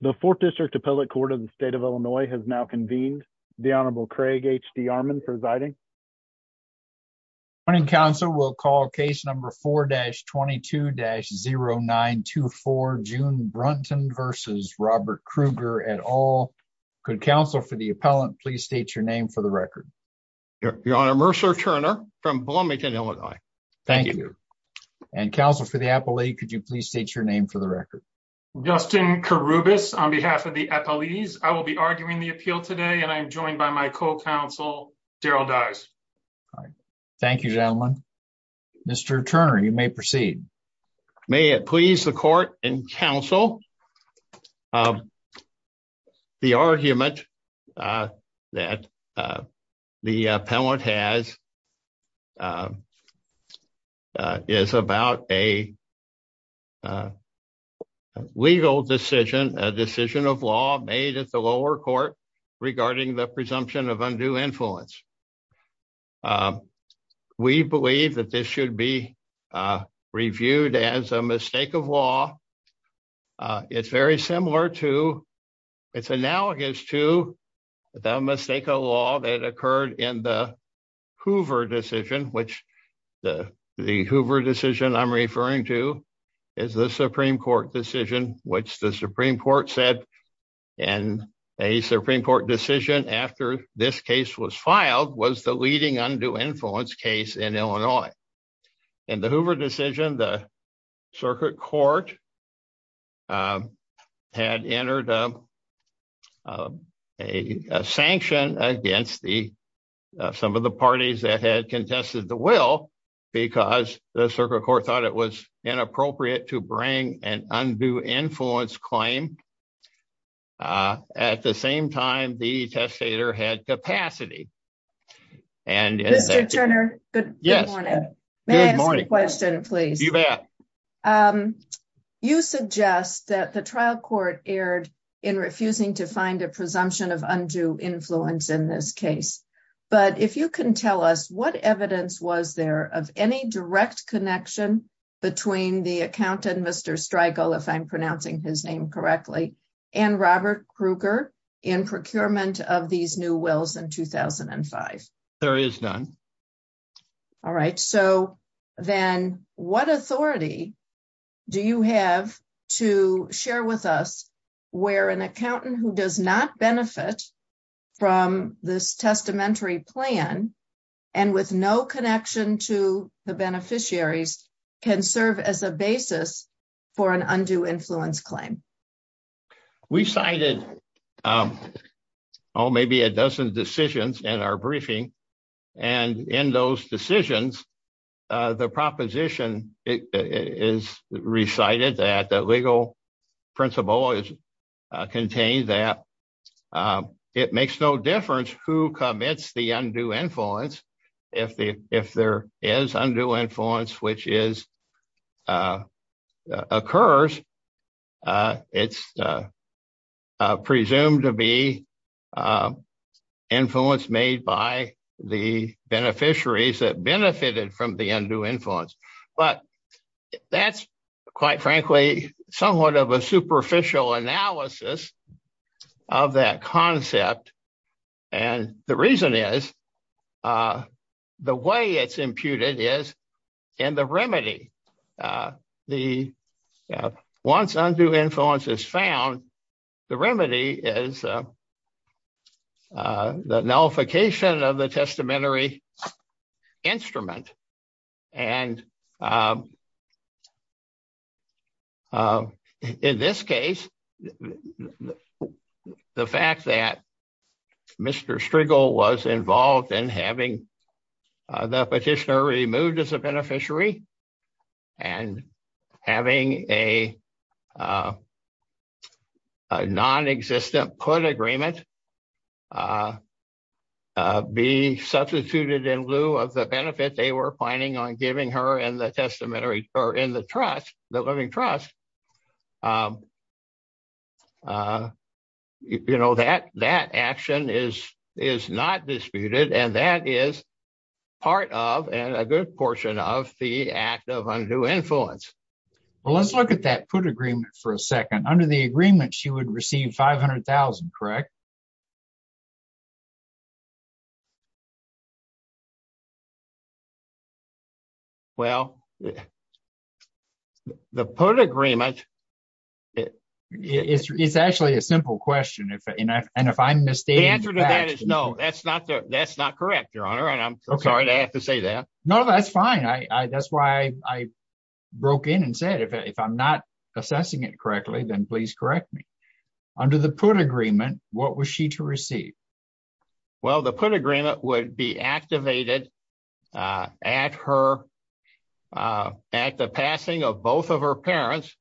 the fourth district appellate court of the state of illinois has now convened the honorable craig hd armand presiding morning counsel we'll call case number 4-22-0924 june brunton versus robert kruger at all could counsel for the appellant please state your name for the record your honor mercer turner from bloomington illinois thank you and counsel for the appellate could you please state your name for the record justin karubas on behalf of the appellees i will be arguing the appeal today and i am joined by my co-counsel daryl dyes all right thank you gentlemen mr turner you may proceed may it please the court and counsel um the argument uh that uh the appellant has um is about a legal decision a decision of law made at the lower court regarding the presumption of undue influence we believe that this should be uh reviewed as a mistake of law uh it's very similar to it's analogous to the mistake of law that occurred in the hoover decision which the the hoover decision i'm referring to is the supreme court decision which the supreme court said and a supreme court decision after this case was filed was the leading undue influence case in illinois in the hoover decision the circuit court um had entered a a sanction against the some of the parties that had contested the will because the circuit court thought it was inappropriate to bring an undue influence claim uh at the same time the testator had capacity and mr turner good morning may i ask a question please you bet um you suggest that the trial court erred in refusing to find a presumption of undue influence in this case but if you can tell us what evidence was there of any direct connection between the accountant mr streigel if i'm pronouncing his name correctly and robert krueger in procurement of these new wills in 2005 there is none all right so then what authority do you have to share with us where an accountant who does not benefit from this testamentary plan and with no connection to the beneficiaries can serve as a basis for an undue influence claim we cited um oh maybe a dozen decisions in our briefing and in those decisions uh the proposition is recited that the legal principle is contained that um it makes no difference who commits the undue influence if the if there is undue influence which is uh occurs uh it's uh presumed to be uh influence made by the beneficiaries that benefited from the undue influence but that's quite frankly somewhat of a superficial analysis of that concept and the reason is uh the way it's imputed is in the remedy the once undue influence is found the remedy is the nullification of the testamentary instrument and um in this case the fact that mr streigel was involved in having the petitioner removed as a beneficiary and having a non-existent put agreement uh uh be substituted in lieu of the benefit they were planning on giving her in the testamentary or in the trust the living trust um uh you know that that action is is not disputed and that is part of and a good portion of the act of undue influence well let's look at that put agreement for a second under the agreement she would receive 500 000 correct well the put agreement it is it's actually a simple question if and if i'm mistaken the answer to that is no that's not that's not correct your honor and i'm sorry i have to say that no that's fine i i that's why i i broke in and said if i'm not assessing it correctly then please correct me under the put agreement what was she to receive well the put agreement would be activated uh at her uh at the passing of both of her parents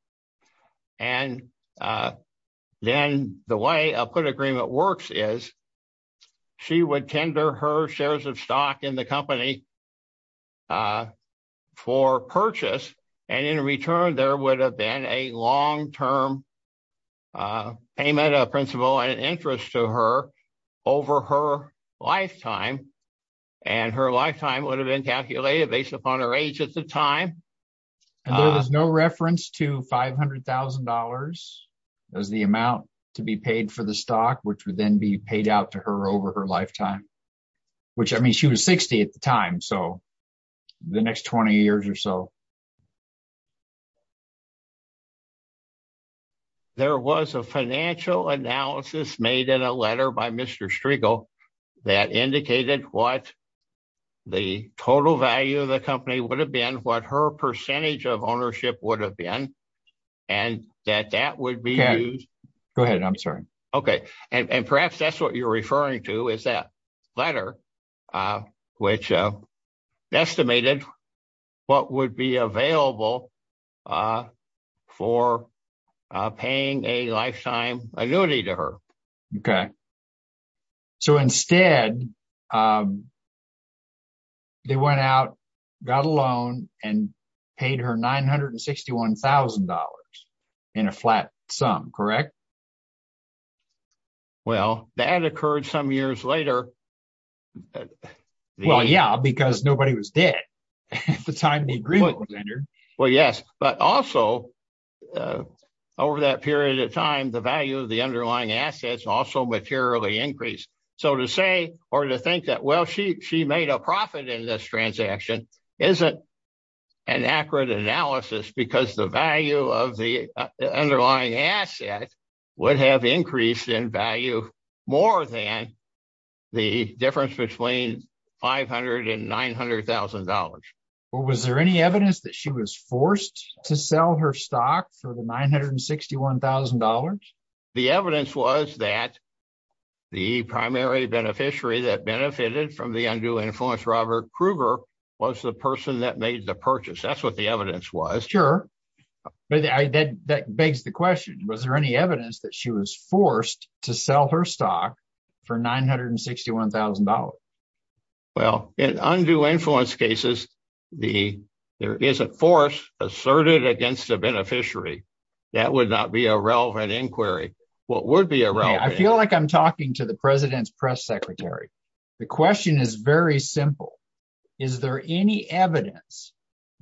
and uh then the way i'll put agreement works is she would tender her shares of stock in the company uh for purchase and in return there would have been a long-term uh payment of principal and interest to her over her lifetime and her lifetime would have been calculated based upon her age at the time and there is no reference to five hundred thousand dollars as the amount to be paid for the then be paid out to her over her lifetime which i mean she was 60 at the time so the next 20 years or so there was a financial analysis made in a letter by mr striggle that indicated what the total value of the company would have been what her percentage of ownership would have been and that that would be used go ahead i'm sorry okay and perhaps that's what you're referring to is that letter uh which uh estimated what would be available uh for uh paying a lifetime annuity to her okay so instead um they went out got a loan and paid her 961 thousand dollars in a flat sum correct well that occurred some years later well yeah because nobody was dead at the time well yes but also uh over that period of time the value of the underlying assets also materially increased so to say or to think that well she she made a profit in this transaction isn't an accurate analysis because the value of the underlying asset would have increased in value more than the difference between 500 and 900 thousand dollars well was there any evidence that she was forced to sell her stock for the 961 thousand dollars the evidence was that the primary beneficiary that benefited from the undue influence robert kruger was the person that made the purchase that's what the evidence was sure but that begs the question was there any evidence that she was forced to sell her stock for 961 thousand dollars well in undue influence cases the there is a force asserted against the beneficiary that would not be a relevant inquiry what would be irrelevant i feel like i'm talking to the president's press secretary the question is very simple is there any evidence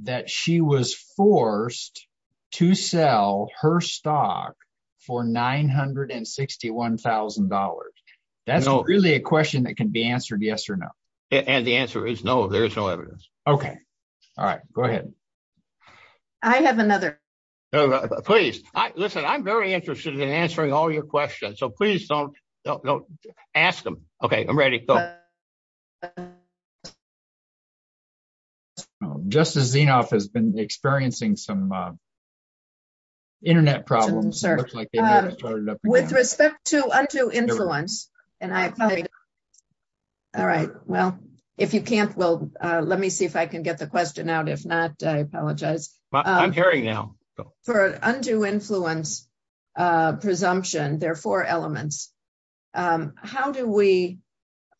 that she was forced to sell her stock for 961 thousand dollars that's really a question that can be answered yes or no and the answer is no there is no evidence okay all right go ahead i have another please listen i'm very interested in answering all your questions so please don't don't ask them okay i'm some internet problems with respect to undue influence and i apologize all right well if you can't well uh let me see if i can get the question out if not i apologize i'm hearing now for undue influence uh presumption there are four elements um how do we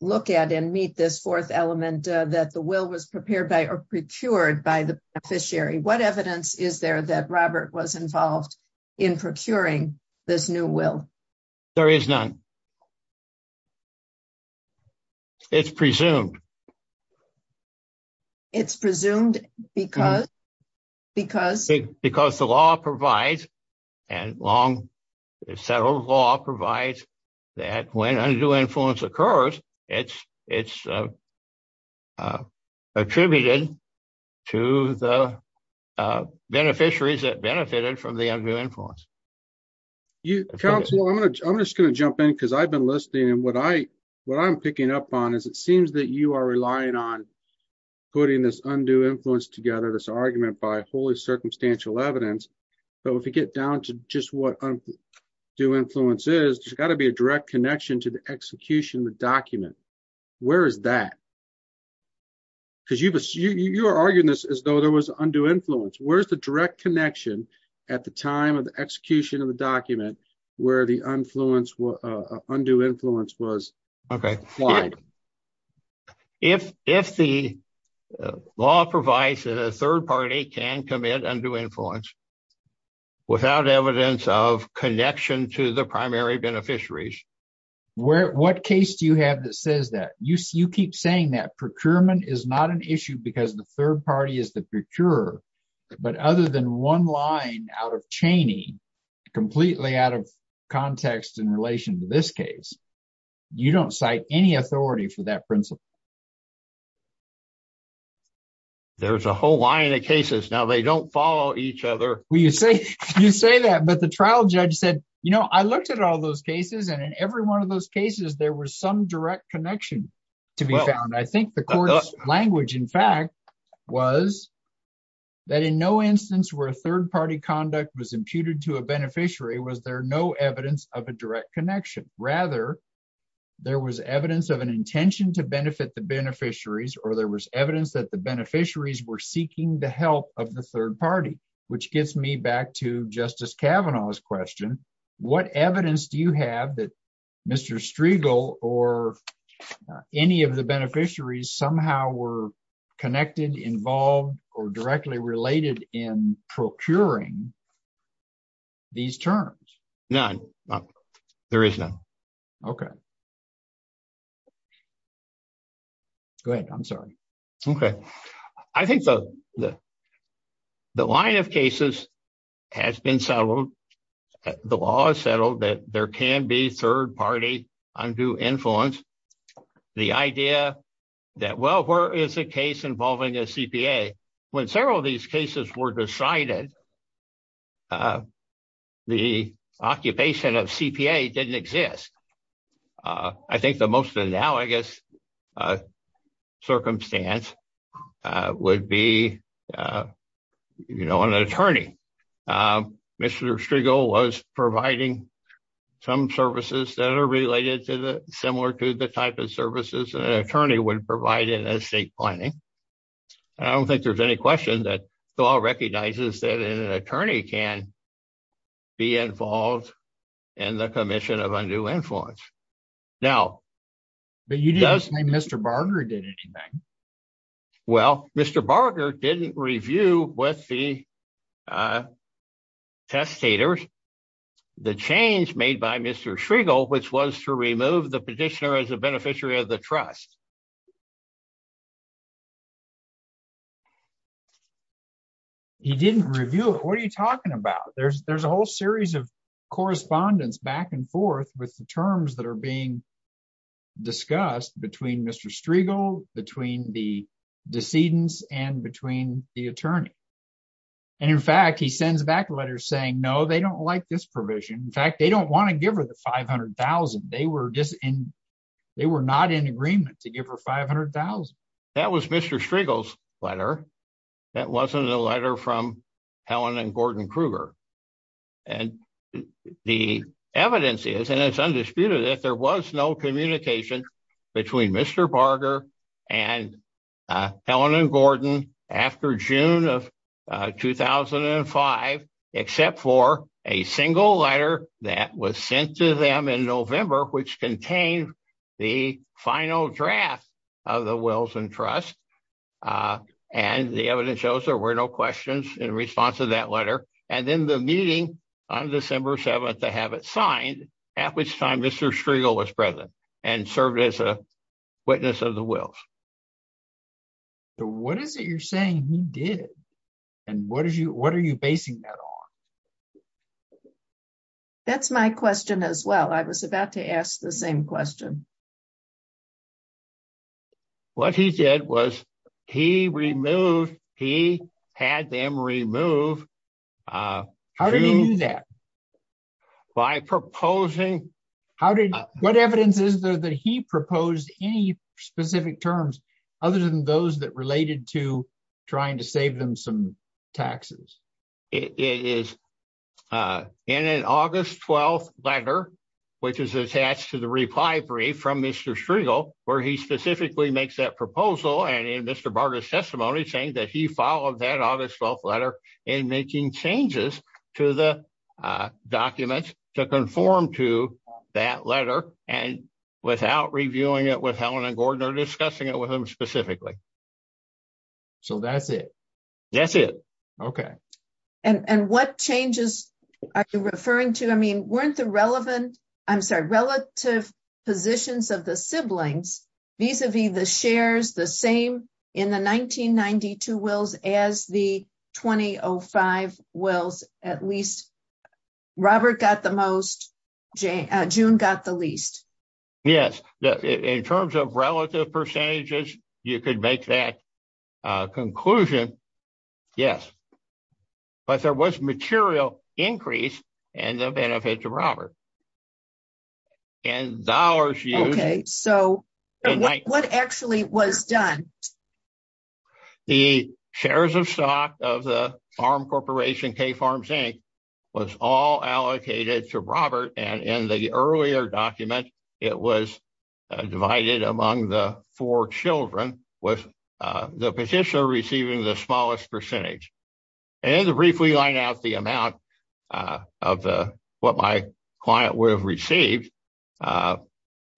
look at and meet this fourth element that the will was prepared by or procured by the beneficiary what evidence is there that robert was involved in procuring this new will there is none it's presumed it's presumed because because because the law provides and long settled law provides that when undue influence occurs it's it's uh uh attributed to the uh beneficiaries that benefited from the undue influence you counsel i'm gonna i'm just gonna jump in because i've been listening and what i what i'm picking up on is it seems that you are relying on putting this undue influence together this argument by wholly circumstantial evidence but if you get down to just what undue influence is there's got to be a direct connection to the execution of the document where is that because you've assumed you're arguing this as though there was undue influence where's the direct connection at the time of the execution of the document where the influence uh undue influence was okay why if if the law provides that a third party can commit undue influence without evidence of connection to the primary beneficiaries where what case do you have that says that you see you keep saying that procurement is not an issue because the third party is the procurer but other than one line out of chaney completely out of context in relation to this case you don't cite any authority for that principle there's a whole line of cases now they don't follow each other well you say you say that but the trial judge said you know i looked at all those cases and in every one of those cases there was some direct connection to be found i think the court's language in fact was that in no instance where a third party conduct was imputed to a beneficiary was there no evidence of a direct connection rather there was evidence of an intention to benefit the beneficiaries or there was evidence that the beneficiaries were seeking the help of the third party which gets me back to justice cavanaugh's question what evidence do you have that mr striegel or any of the beneficiaries somehow were connected involved or directly related in procuring these terms none is now okay go ahead i'm sorry okay i think the the line of cases has been settled the law is settled that there can be third party undue influence the idea that well where is the case involving a cpa when several of these cases were decided the occupation of cpa didn't exist i think the most analogous circumstance would be you know an attorney mr striegel was providing some services that are related to the similar to the type of services an attorney would provide in estate planning i don't think there's any question that the law recognizes that an attorney can be involved in the commission of undue influence now but you just named mr barger did anything well mr barger didn't review with the uh testators the change made by mr striegel which was to remove the petitioner as a beneficiary of the trust he didn't review it what are you talking about there's there's a whole series of correspondence back and forth with the terms that are being discussed between mr striegel between the decedents and between the attorney and in fact he sends back letters saying no they don't like this provision in fact they don't want to give her the 500 000 they were just in they were not in agreement to give her 500 000 that was mr striegel's letter that wasn't a letter from helen and gordon kruger and the evidence is and it's undisputed that there was no communication between mr barger and helen and gordon after june of 2005 except for a single letter that was sent to them in november which contained the final draft of the wilson trust and the evidence shows there were no questions in response to that letter and then the meeting on december 7th to have it signed at which time mr striegel was present and served as a witness of the wills so what is it you're saying he did and what is you what are you basing that on that's my question as well i was about to ask the same question what he did was he removed he had them removed uh how did he do that by proposing how did what evidence is there that he proposed any specific terms other than those that related to trying to mr striegel where he specifically makes that proposal and in mr barter's testimony saying that he followed that august 12th letter in making changes to the uh documents to conform to that letter and without reviewing it with helen and gordon or discussing it with him specifically so that's it that's it okay and and what changes are you referring to i mean weren't the relevant i'm sorry relative positions of the siblings vis-a-vis the shares the same in the 1992 wills as the 2005 wills at least robert got the most j june got the least yes in terms of relative percentages you could make that uh conclusion yes but there was material increase in the benefits robert and dollars okay so what actually was done the shares of stock of the farm corporation k farms inc was all allocated to robert and in the earlier document it was divided among the four children with the petitioner receiving the smallest percentage and to briefly line out the client would have received uh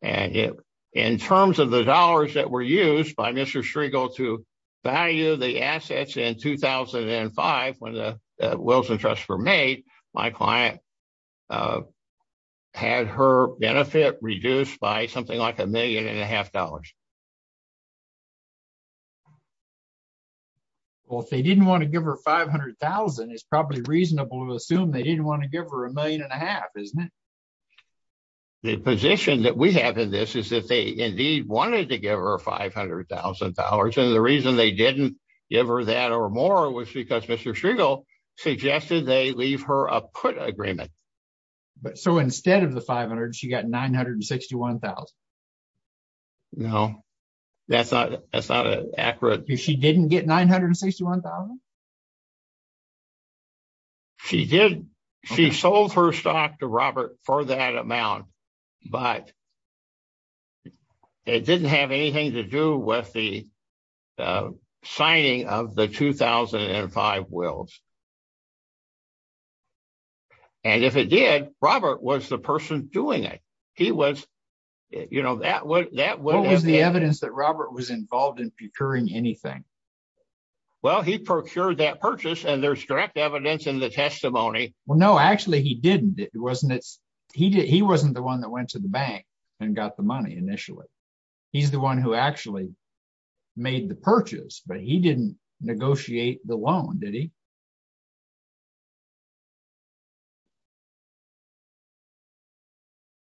and in terms of the dollars that were used by mr striegel to value the assets in 2005 when the wills and trusts were made my client had her benefit reduced by something like a million and a half dollars well if they didn't want to give her 500 000 it's probably reasonable to assume they didn't want to give her a million and a half isn't it the position that we have in this is that they indeed wanted to give her 500 000 and the reason they didn't give her that or more was because mr striegel suggested they leave her a put agreement but so instead of the 500 she got 961 no that's not that's not an accurate she didn't get 961 she did she sold her stock to robert for that amount but it didn't have anything to do with the signing of the 2005 wills and if it did robert was the person doing it he was you know that would that was the evidence that robert was involved in procuring anything well he procured that purchase and there's direct evidence in the testimony well no actually he didn't it wasn't it's he didn't he wasn't the one that went to the bank and got the money initially he's the one who actually made the purchase but he didn't negotiate the loan did he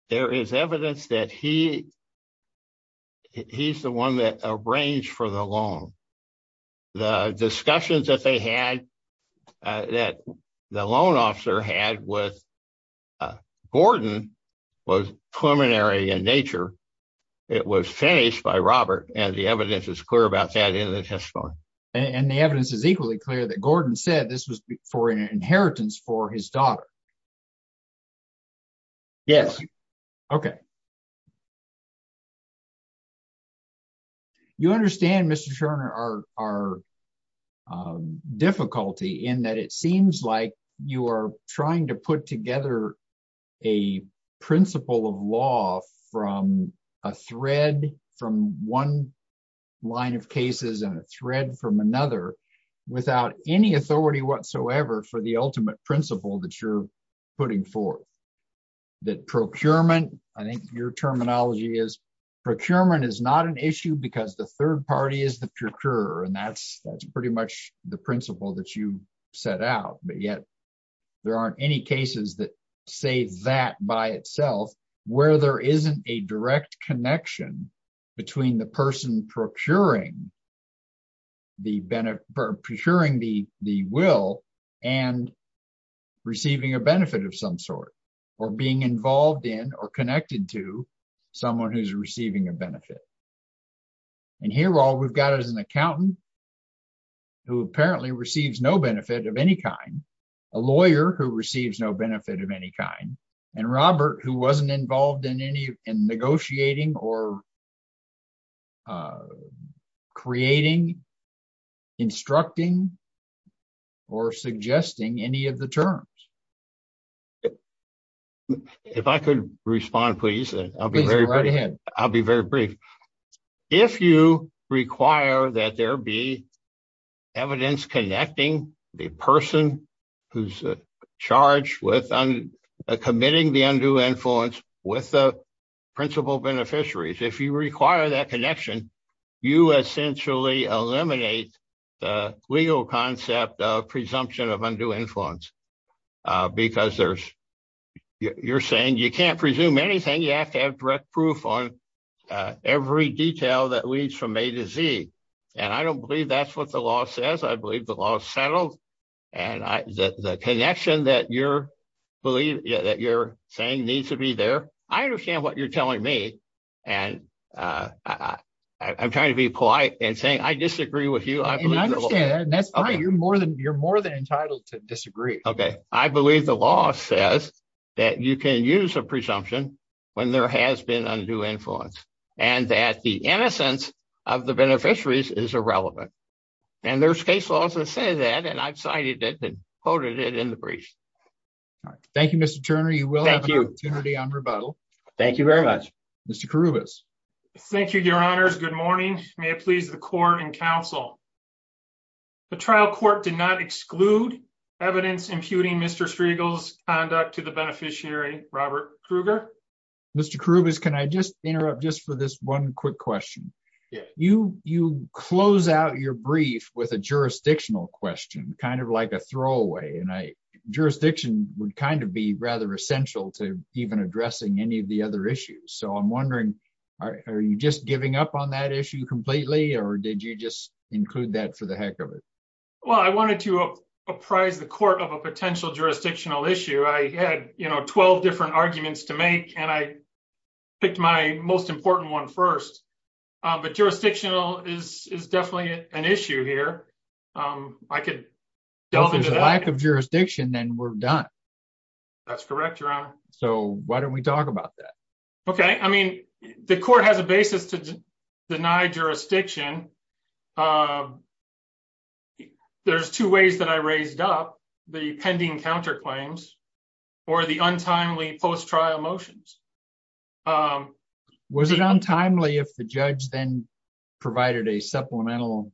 there is evidence that he he's the one that arranged for the loan the discussions that they had that the loan officer had with gordon was preliminary in nature it was finished by robert and the evidence is clear about that in the testimony and the evidence is equally clear that gordon said this was for an inheritance for his daughter yes okay you understand mr scherner our our difficulty in that it seems like you are trying to put together a principle of law from a thread from one line of cases and a thread from another without any authority whatsoever for the ultimate principle that you're putting forth that procurement i think your terminology is procurement is not an issue because the third party is the procurer and that's that's pretty much the principle that you set out but yet there aren't any cases that say that by itself where there isn't a direct connection between the person procuring the benefit or procuring the the will and receiving a benefit of some sort or being involved in or connected to someone who's receiving a benefit and here all we've got is an accountant who apparently receives no benefit of a lawyer who receives no benefit of any kind and robert who wasn't involved in any in negotiating or creating instructing or suggesting any of the terms if i could respond please i'll be right ahead i'll be very brief if you require that there be evidence connecting the person who's charged with committing the undue influence with the principal beneficiaries if you require that connection you essentially eliminate the legal concept of presumption of undue influence because there's you're saying you can't presume anything you have to have direct proof on every detail that leads from a to z and i don't believe that's what the law says i believe the law is settled and i the connection that you're believe yeah that you're saying needs to be there i understand what you're telling me and uh i i'm trying to be polite and saying i disagree with you i believe that's fine you're more than you're more than entitled to disagree okay i believe the law says that you can use a presumption when there has been undue influence and that the innocence of the beneficiaries is relevant and there's case laws that say that and i've cited it and quoted it in the brief all right thank you mr turner you will have an opportunity on rebuttal thank you very much mr carubas thank you your honors good morning may it please the court and council the trial court did not exclude evidence imputing mr striegel's conduct to the beneficiary robert kruger mr carubas can i just interrupt just for this one quick question you you close out your brief with a jurisdictional question kind of like a throwaway and i jurisdiction would kind of be rather essential to even addressing any of the other issues so i'm wondering are you just giving up on that issue completely or did you just include that for the heck of it well i wanted to apprise the court of a potential jurisdictional issue i had you know 12 different arguments to make and i picked my most important one first but jurisdictional is is definitely an issue here um i could delve into the lack of jurisdiction then we're done that's correct your honor so why don't we talk about that okay i mean the court has a basis to deny jurisdiction um there's two ways that i raised up the pending counterclaims or the untimely post-trial motions um was it untimely if the judge then provided a supplemental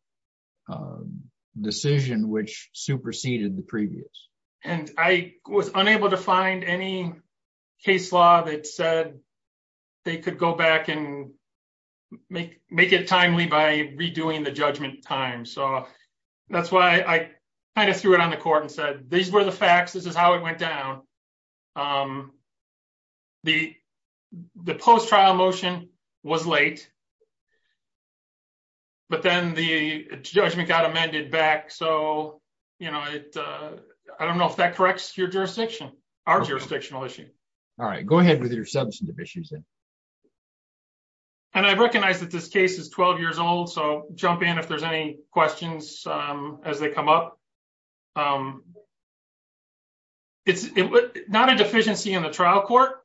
decision which superseded the previous and i was unable to find any case law that said they could go back and make make it timely by redoing the judgment time so that's why i kind of threw it on the court and said these were the facts this is how it went down um the the post-trial motion was late but then the judgment got amended back so you know it i don't know if that corrects your jurisdiction our jurisdictional issue all right go ahead with your substantive issues then and i recognize that this case is 12 years old so jump in if there's any questions um as they come up um it's not a deficiency in the trial court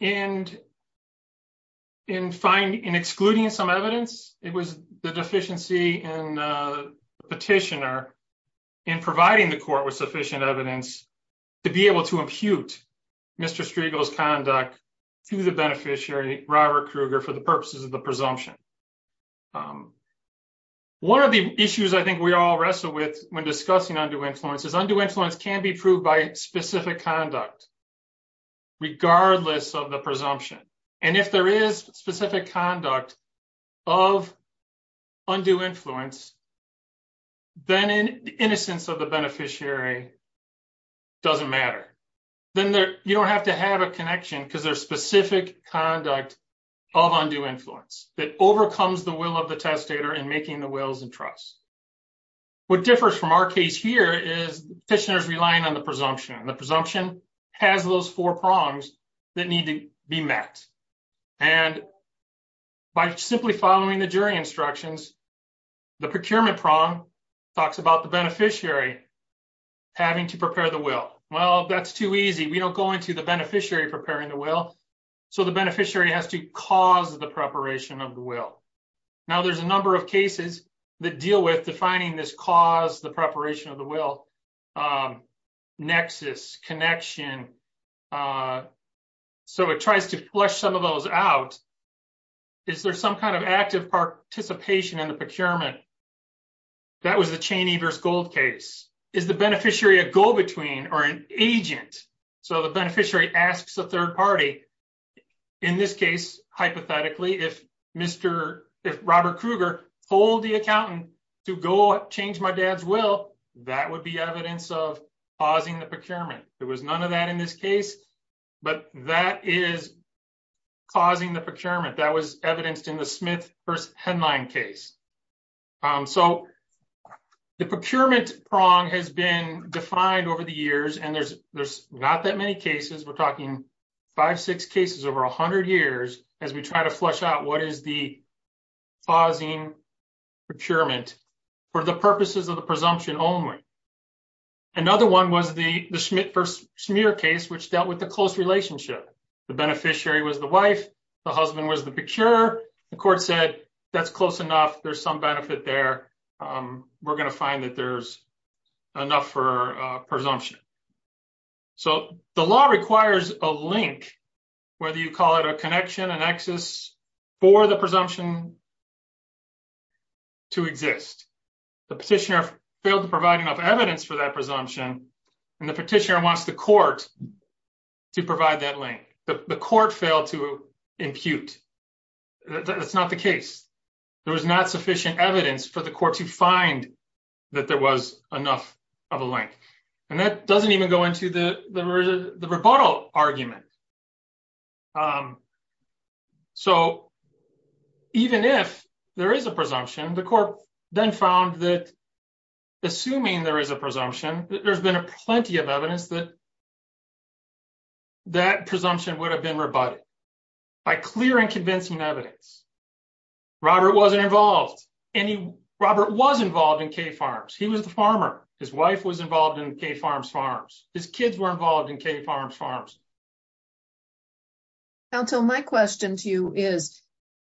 and in finding in excluding some evidence it was the deficiency in the petitioner in providing the court with sufficient evidence to be able to impute mr striegel's conduct to the beneficiary robert kruger for the purposes of the presumption um one of the issues i think we all wrestle with when discussing undue influence is undue influence can be proved by specific conduct regardless of the presumption and if there is specific conduct of undue influence then in the innocence of the beneficiary doesn't matter then there you don't have to have a connection because there's specific conduct of undue influence that overcomes the will of the testator in making the wills and trusts what differs from our case here is petitioners relying on the presumption the presumption has those four prongs that need to be met and by simply following the jury instructions the procurement prong talks about the beneficiary having to prepare the will well that's too easy we don't go into the beneficiary preparing the will so the beneficiary has to cause the preparation of the will now there's a number of cases that deal with defining this cause the preparation of the will um nexus connection uh so it tries to flush some of those out is there some kind of active participation in the procurement that was the cheney verse gold case is the beneficiary a go-between or an agent so the beneficiary asks the third party in this case hypothetically if mr if robert krueger told the accountant to go change my dad's will that would be evidence of pausing the procurement there was none of that in this case but that is causing the procurement that was evidenced in the smith first headline case um so the procurement prong has been defined over the years and there's there's not that many cases we're talking five six cases over a hundred years as we try to flush out what is the pausing procurement for the purposes of the presumption only another one was the the smith smear case which dealt with the close relationship the beneficiary was the wife the husband was the picture the court said that's close enough there's some benefit there um we're going to find that there's enough for uh presumption so the law requires a link whether you call it a connection an axis for the presumption to exist the petitioner failed to provide enough evidence for that presumption and the petitioner wants the court to provide that link the court failed to impute that's not the case there was not sufficient evidence for the court to find that there was enough of a link and that doesn't even go into the the rebuttal argument um so even if there is a presumption the court then found that assuming there is a presumption there's been a plenty of evidence that that presumption would have been rebutted by clear and convincing evidence robert wasn't involved any robert was involved in k farms he was the farmer his wife was involved in k farms farms his kids were involved in k farms farms council my question to you is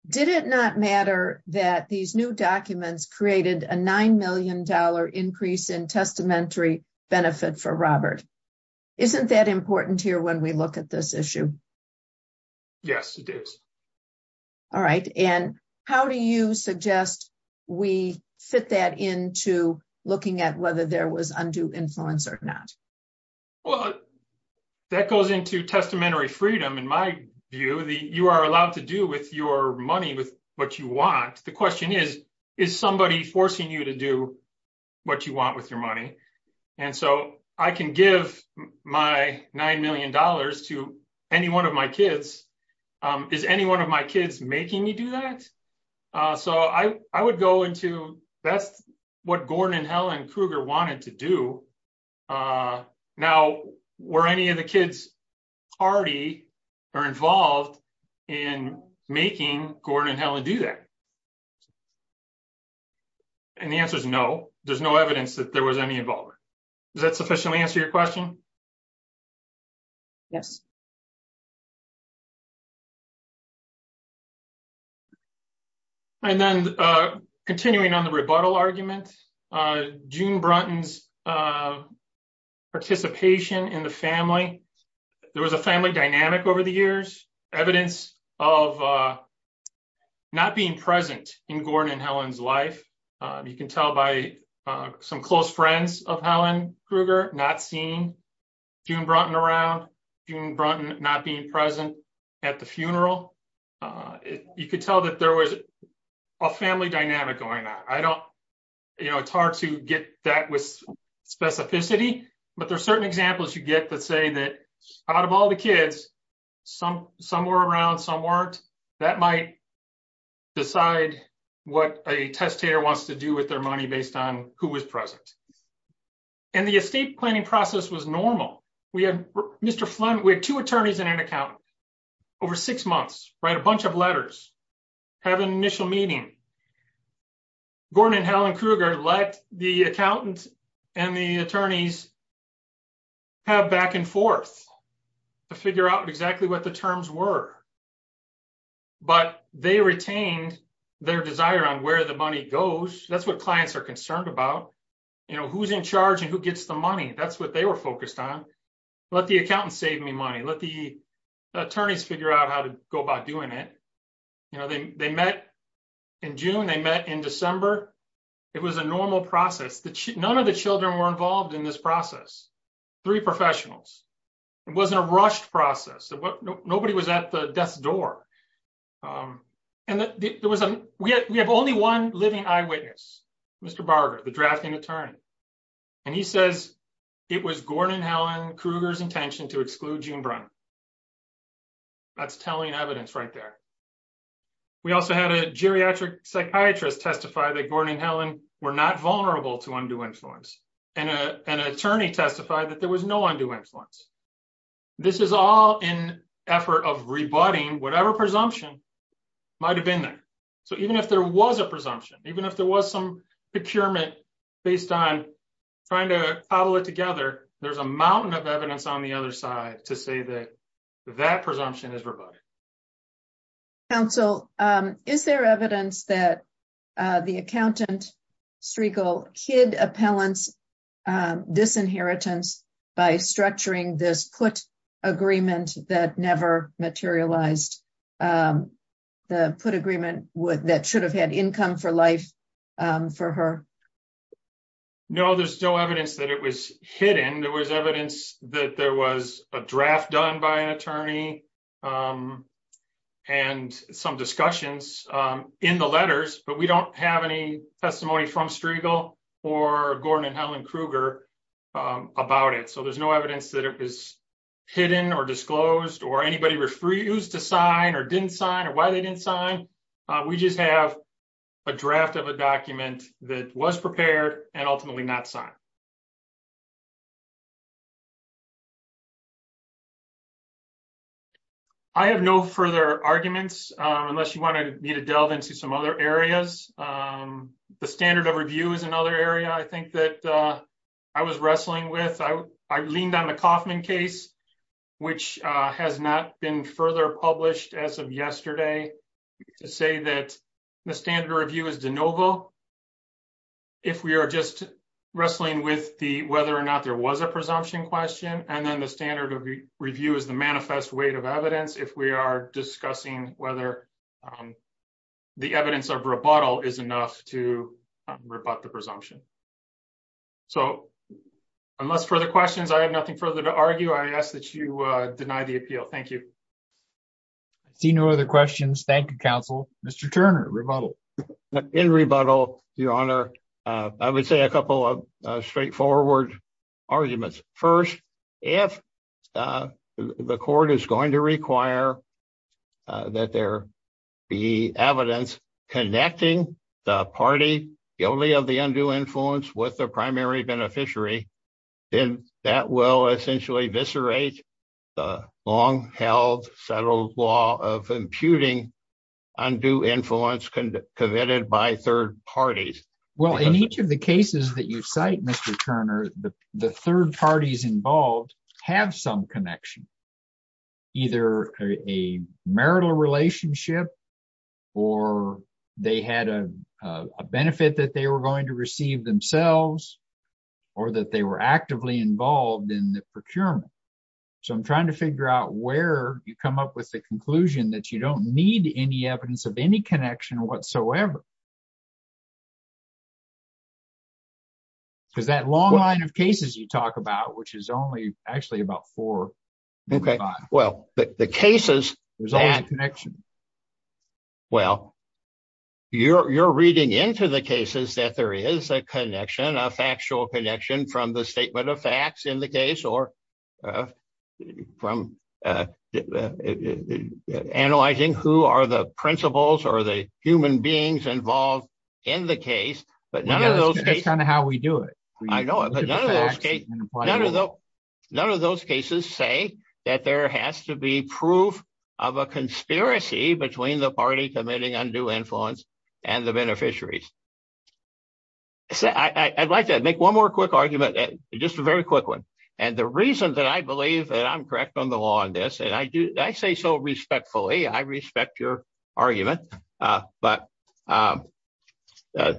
did it not matter that these new documents created a nine million dollar increase in testamentary benefit for robert isn't that important here when we look at this issue yes it is all right and how do you suggest we fit that into looking at whether there was undue influence or not well that goes into testamentary freedom in my view the you are what you want with your money and so i can give my nine million dollars to any one of my kids is any one of my kids making me do that so i i would go into that's what gordon and helen kruger wanted to do uh now were any of the kids already are involved in making gordon and helen do that and the answer is no there's no evidence that there was any involvement does that sufficiently answer your question yes and then uh continuing on the rebuttal argument uh june brunton's uh participation in the family there was a family dynamic over the years evidence of uh not being present in gordon and helen's life uh you can tell by uh some close friends of helen kruger not seeing june brunton around june brunton not being present at the funeral uh you could tell that there was a family dynamic going on i don't you know it's hard to get that with specificity but there's certain examples you get that say that out of all the kids some some were around some weren't that might decide what a testator wants to do with their money based on who was present and the estate planning process was normal we had mr flint we had two attorneys and an accountant over six months write a bunch of letters have an initial meeting gordon and helen kruger let the accountant and the attorneys have back and forth to figure out exactly what the terms were but they retained their desire on where the money goes that's what clients are concerned about you know who's in charge and who gets the money that's what they were focused on let the accountant save me money let the attorneys figure out how to go about doing you know they met in june they met in december it was a normal process that none of the children were involved in this process three professionals it wasn't a rushed process nobody was at the death's door um and there was a we have only one living eyewitness mr barger the drafting attorney and he says it was gordon helen kruger's intention to exclude june brunton that's telling evidence right there we also had a geriatric psychiatrist testify that gordon helen were not vulnerable to undue influence and a an attorney testified that there was no undue influence this is all in effort of rebutting whatever presumption might have been there so even if there was a presumption even if there was some procurement based on trying to presumption is rebutted council um is there evidence that uh the accountant striegel kid appellants um disinheritance by structuring this put agreement that never materialized um the put agreement would that should have had income for life um for her no there's no evidence that it was hidden there was evidence that there was a draft done by an attorney um and some discussions um in the letters but we don't have any testimony from striegel or gordon and helen kruger um about it so there's no evidence that it was hidden or disclosed or anybody refused to sign or didn't sign or why they didn't sign we just have a draft of a document that was prepared and ultimately not signed i have no further arguments unless you wanted me to delve into some other areas um the standard of review is another area i think that uh i was wrestling with i i leaned on the kaufman case which uh has not been further published as of yesterday to say that the standard review is de novo if we are just wrestling with the whether or not there was a presumption question and then the standard of review is the manifest weight of evidence if we are discussing whether um the evidence of rebuttal is enough to rebut the presumption so unless further questions i have nothing further to argue i ask that you uh deny the appeal thank you see no other questions thank you counsel mr turner rebuttal in rebuttal your honor uh i would say a couple of straightforward arguments first if uh the court is going to require uh that there be evidence connecting the party guilty of the undue influence with the primary beneficiary then that will essentially viscerate the long-held settled law of imputing undue influence committed by third parties well in each of the cases that you cite mr turner the third parties involved have some connection either a marital relationship or they had a benefit that they were going to receive themselves or that they were actively involved in the procurement so i'm trying to figure out where you come up with the conclusion that you don't need any evidence of any connection whatsoever because that long line of cases you talk about which is only actually about four okay well the cases there's a connection well you're you're reading into the cases that there is a connection a factual connection from the statement of facts in the case or uh from uh analyzing who are the but none of those that's kind of how we do it i know but none of those none of those cases say that there has to be proof of a conspiracy between the party committing undue influence and the beneficiaries so i i'd like to make one more quick argument just a very quick one and the reason that i believe that i'm correct on the law on this and i do i say so respectfully i respect your argument uh but um a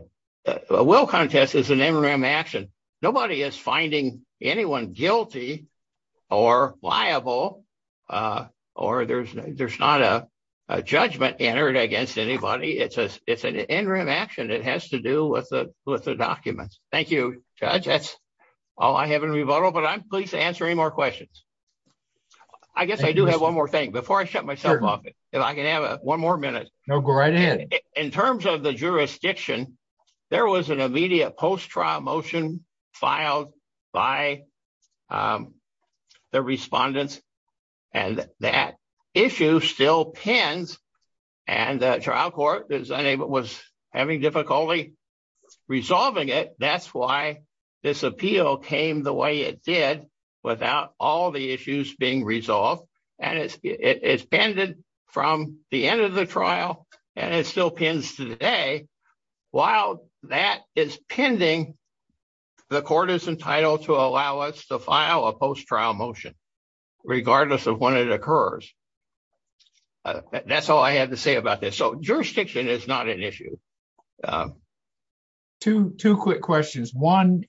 will contest is an interim action nobody is finding anyone guilty or liable uh or there's there's not a judgment entered against anybody it's a it's an interim action it has to do with the with the documents thank you judge that's all i have in rebuttal but i'm pleased to answer any more questions i guess i do have one more thing before i shut myself off if i can have a one more minute no go right ahead in terms of the jurisdiction there was an immediate post-trial motion filed by um the respondents and that issue still pins and the trial court is unable was having difficulty resolving it that's why this appeal came the way it did without all the issues being resolved and it's it's bended from the end of the trial and it still pins today while that is pending the court is entitled to allow us to file a post-trial motion regardless of when it occurs that's all i have to say about this so quick questions one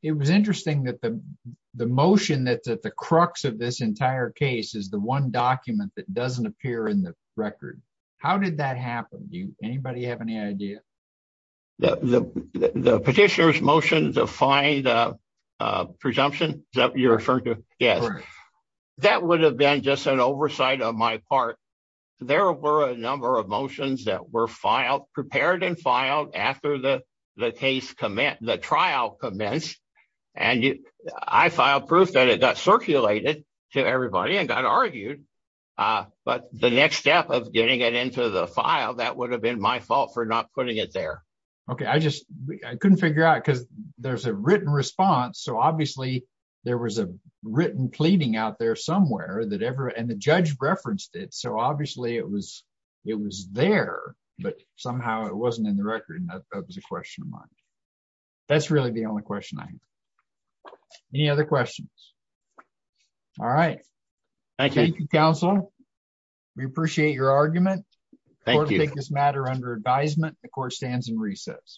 it was interesting that the the motion that's at the crux of this entire case is the one document that doesn't appear in the record how did that happen do anybody have any idea the the petitioner's motion to find a presumption that you're referring to yes that would have been just an oversight of my part there were a number of motions that were filed prepared and filed after the the case commit the trial commenced and i filed proof that it got circulated to everybody and got argued uh but the next step of getting it into the file that would have been my fault for not putting it there okay i just i couldn't figure out because there's a written response so obviously there was a written pleading out there somewhere that ever and the it wasn't in the record that was a question of mine that's really the only question i have any other questions all right thank you counsel we appreciate your argument thank you take this matter under advisement the court stands in recess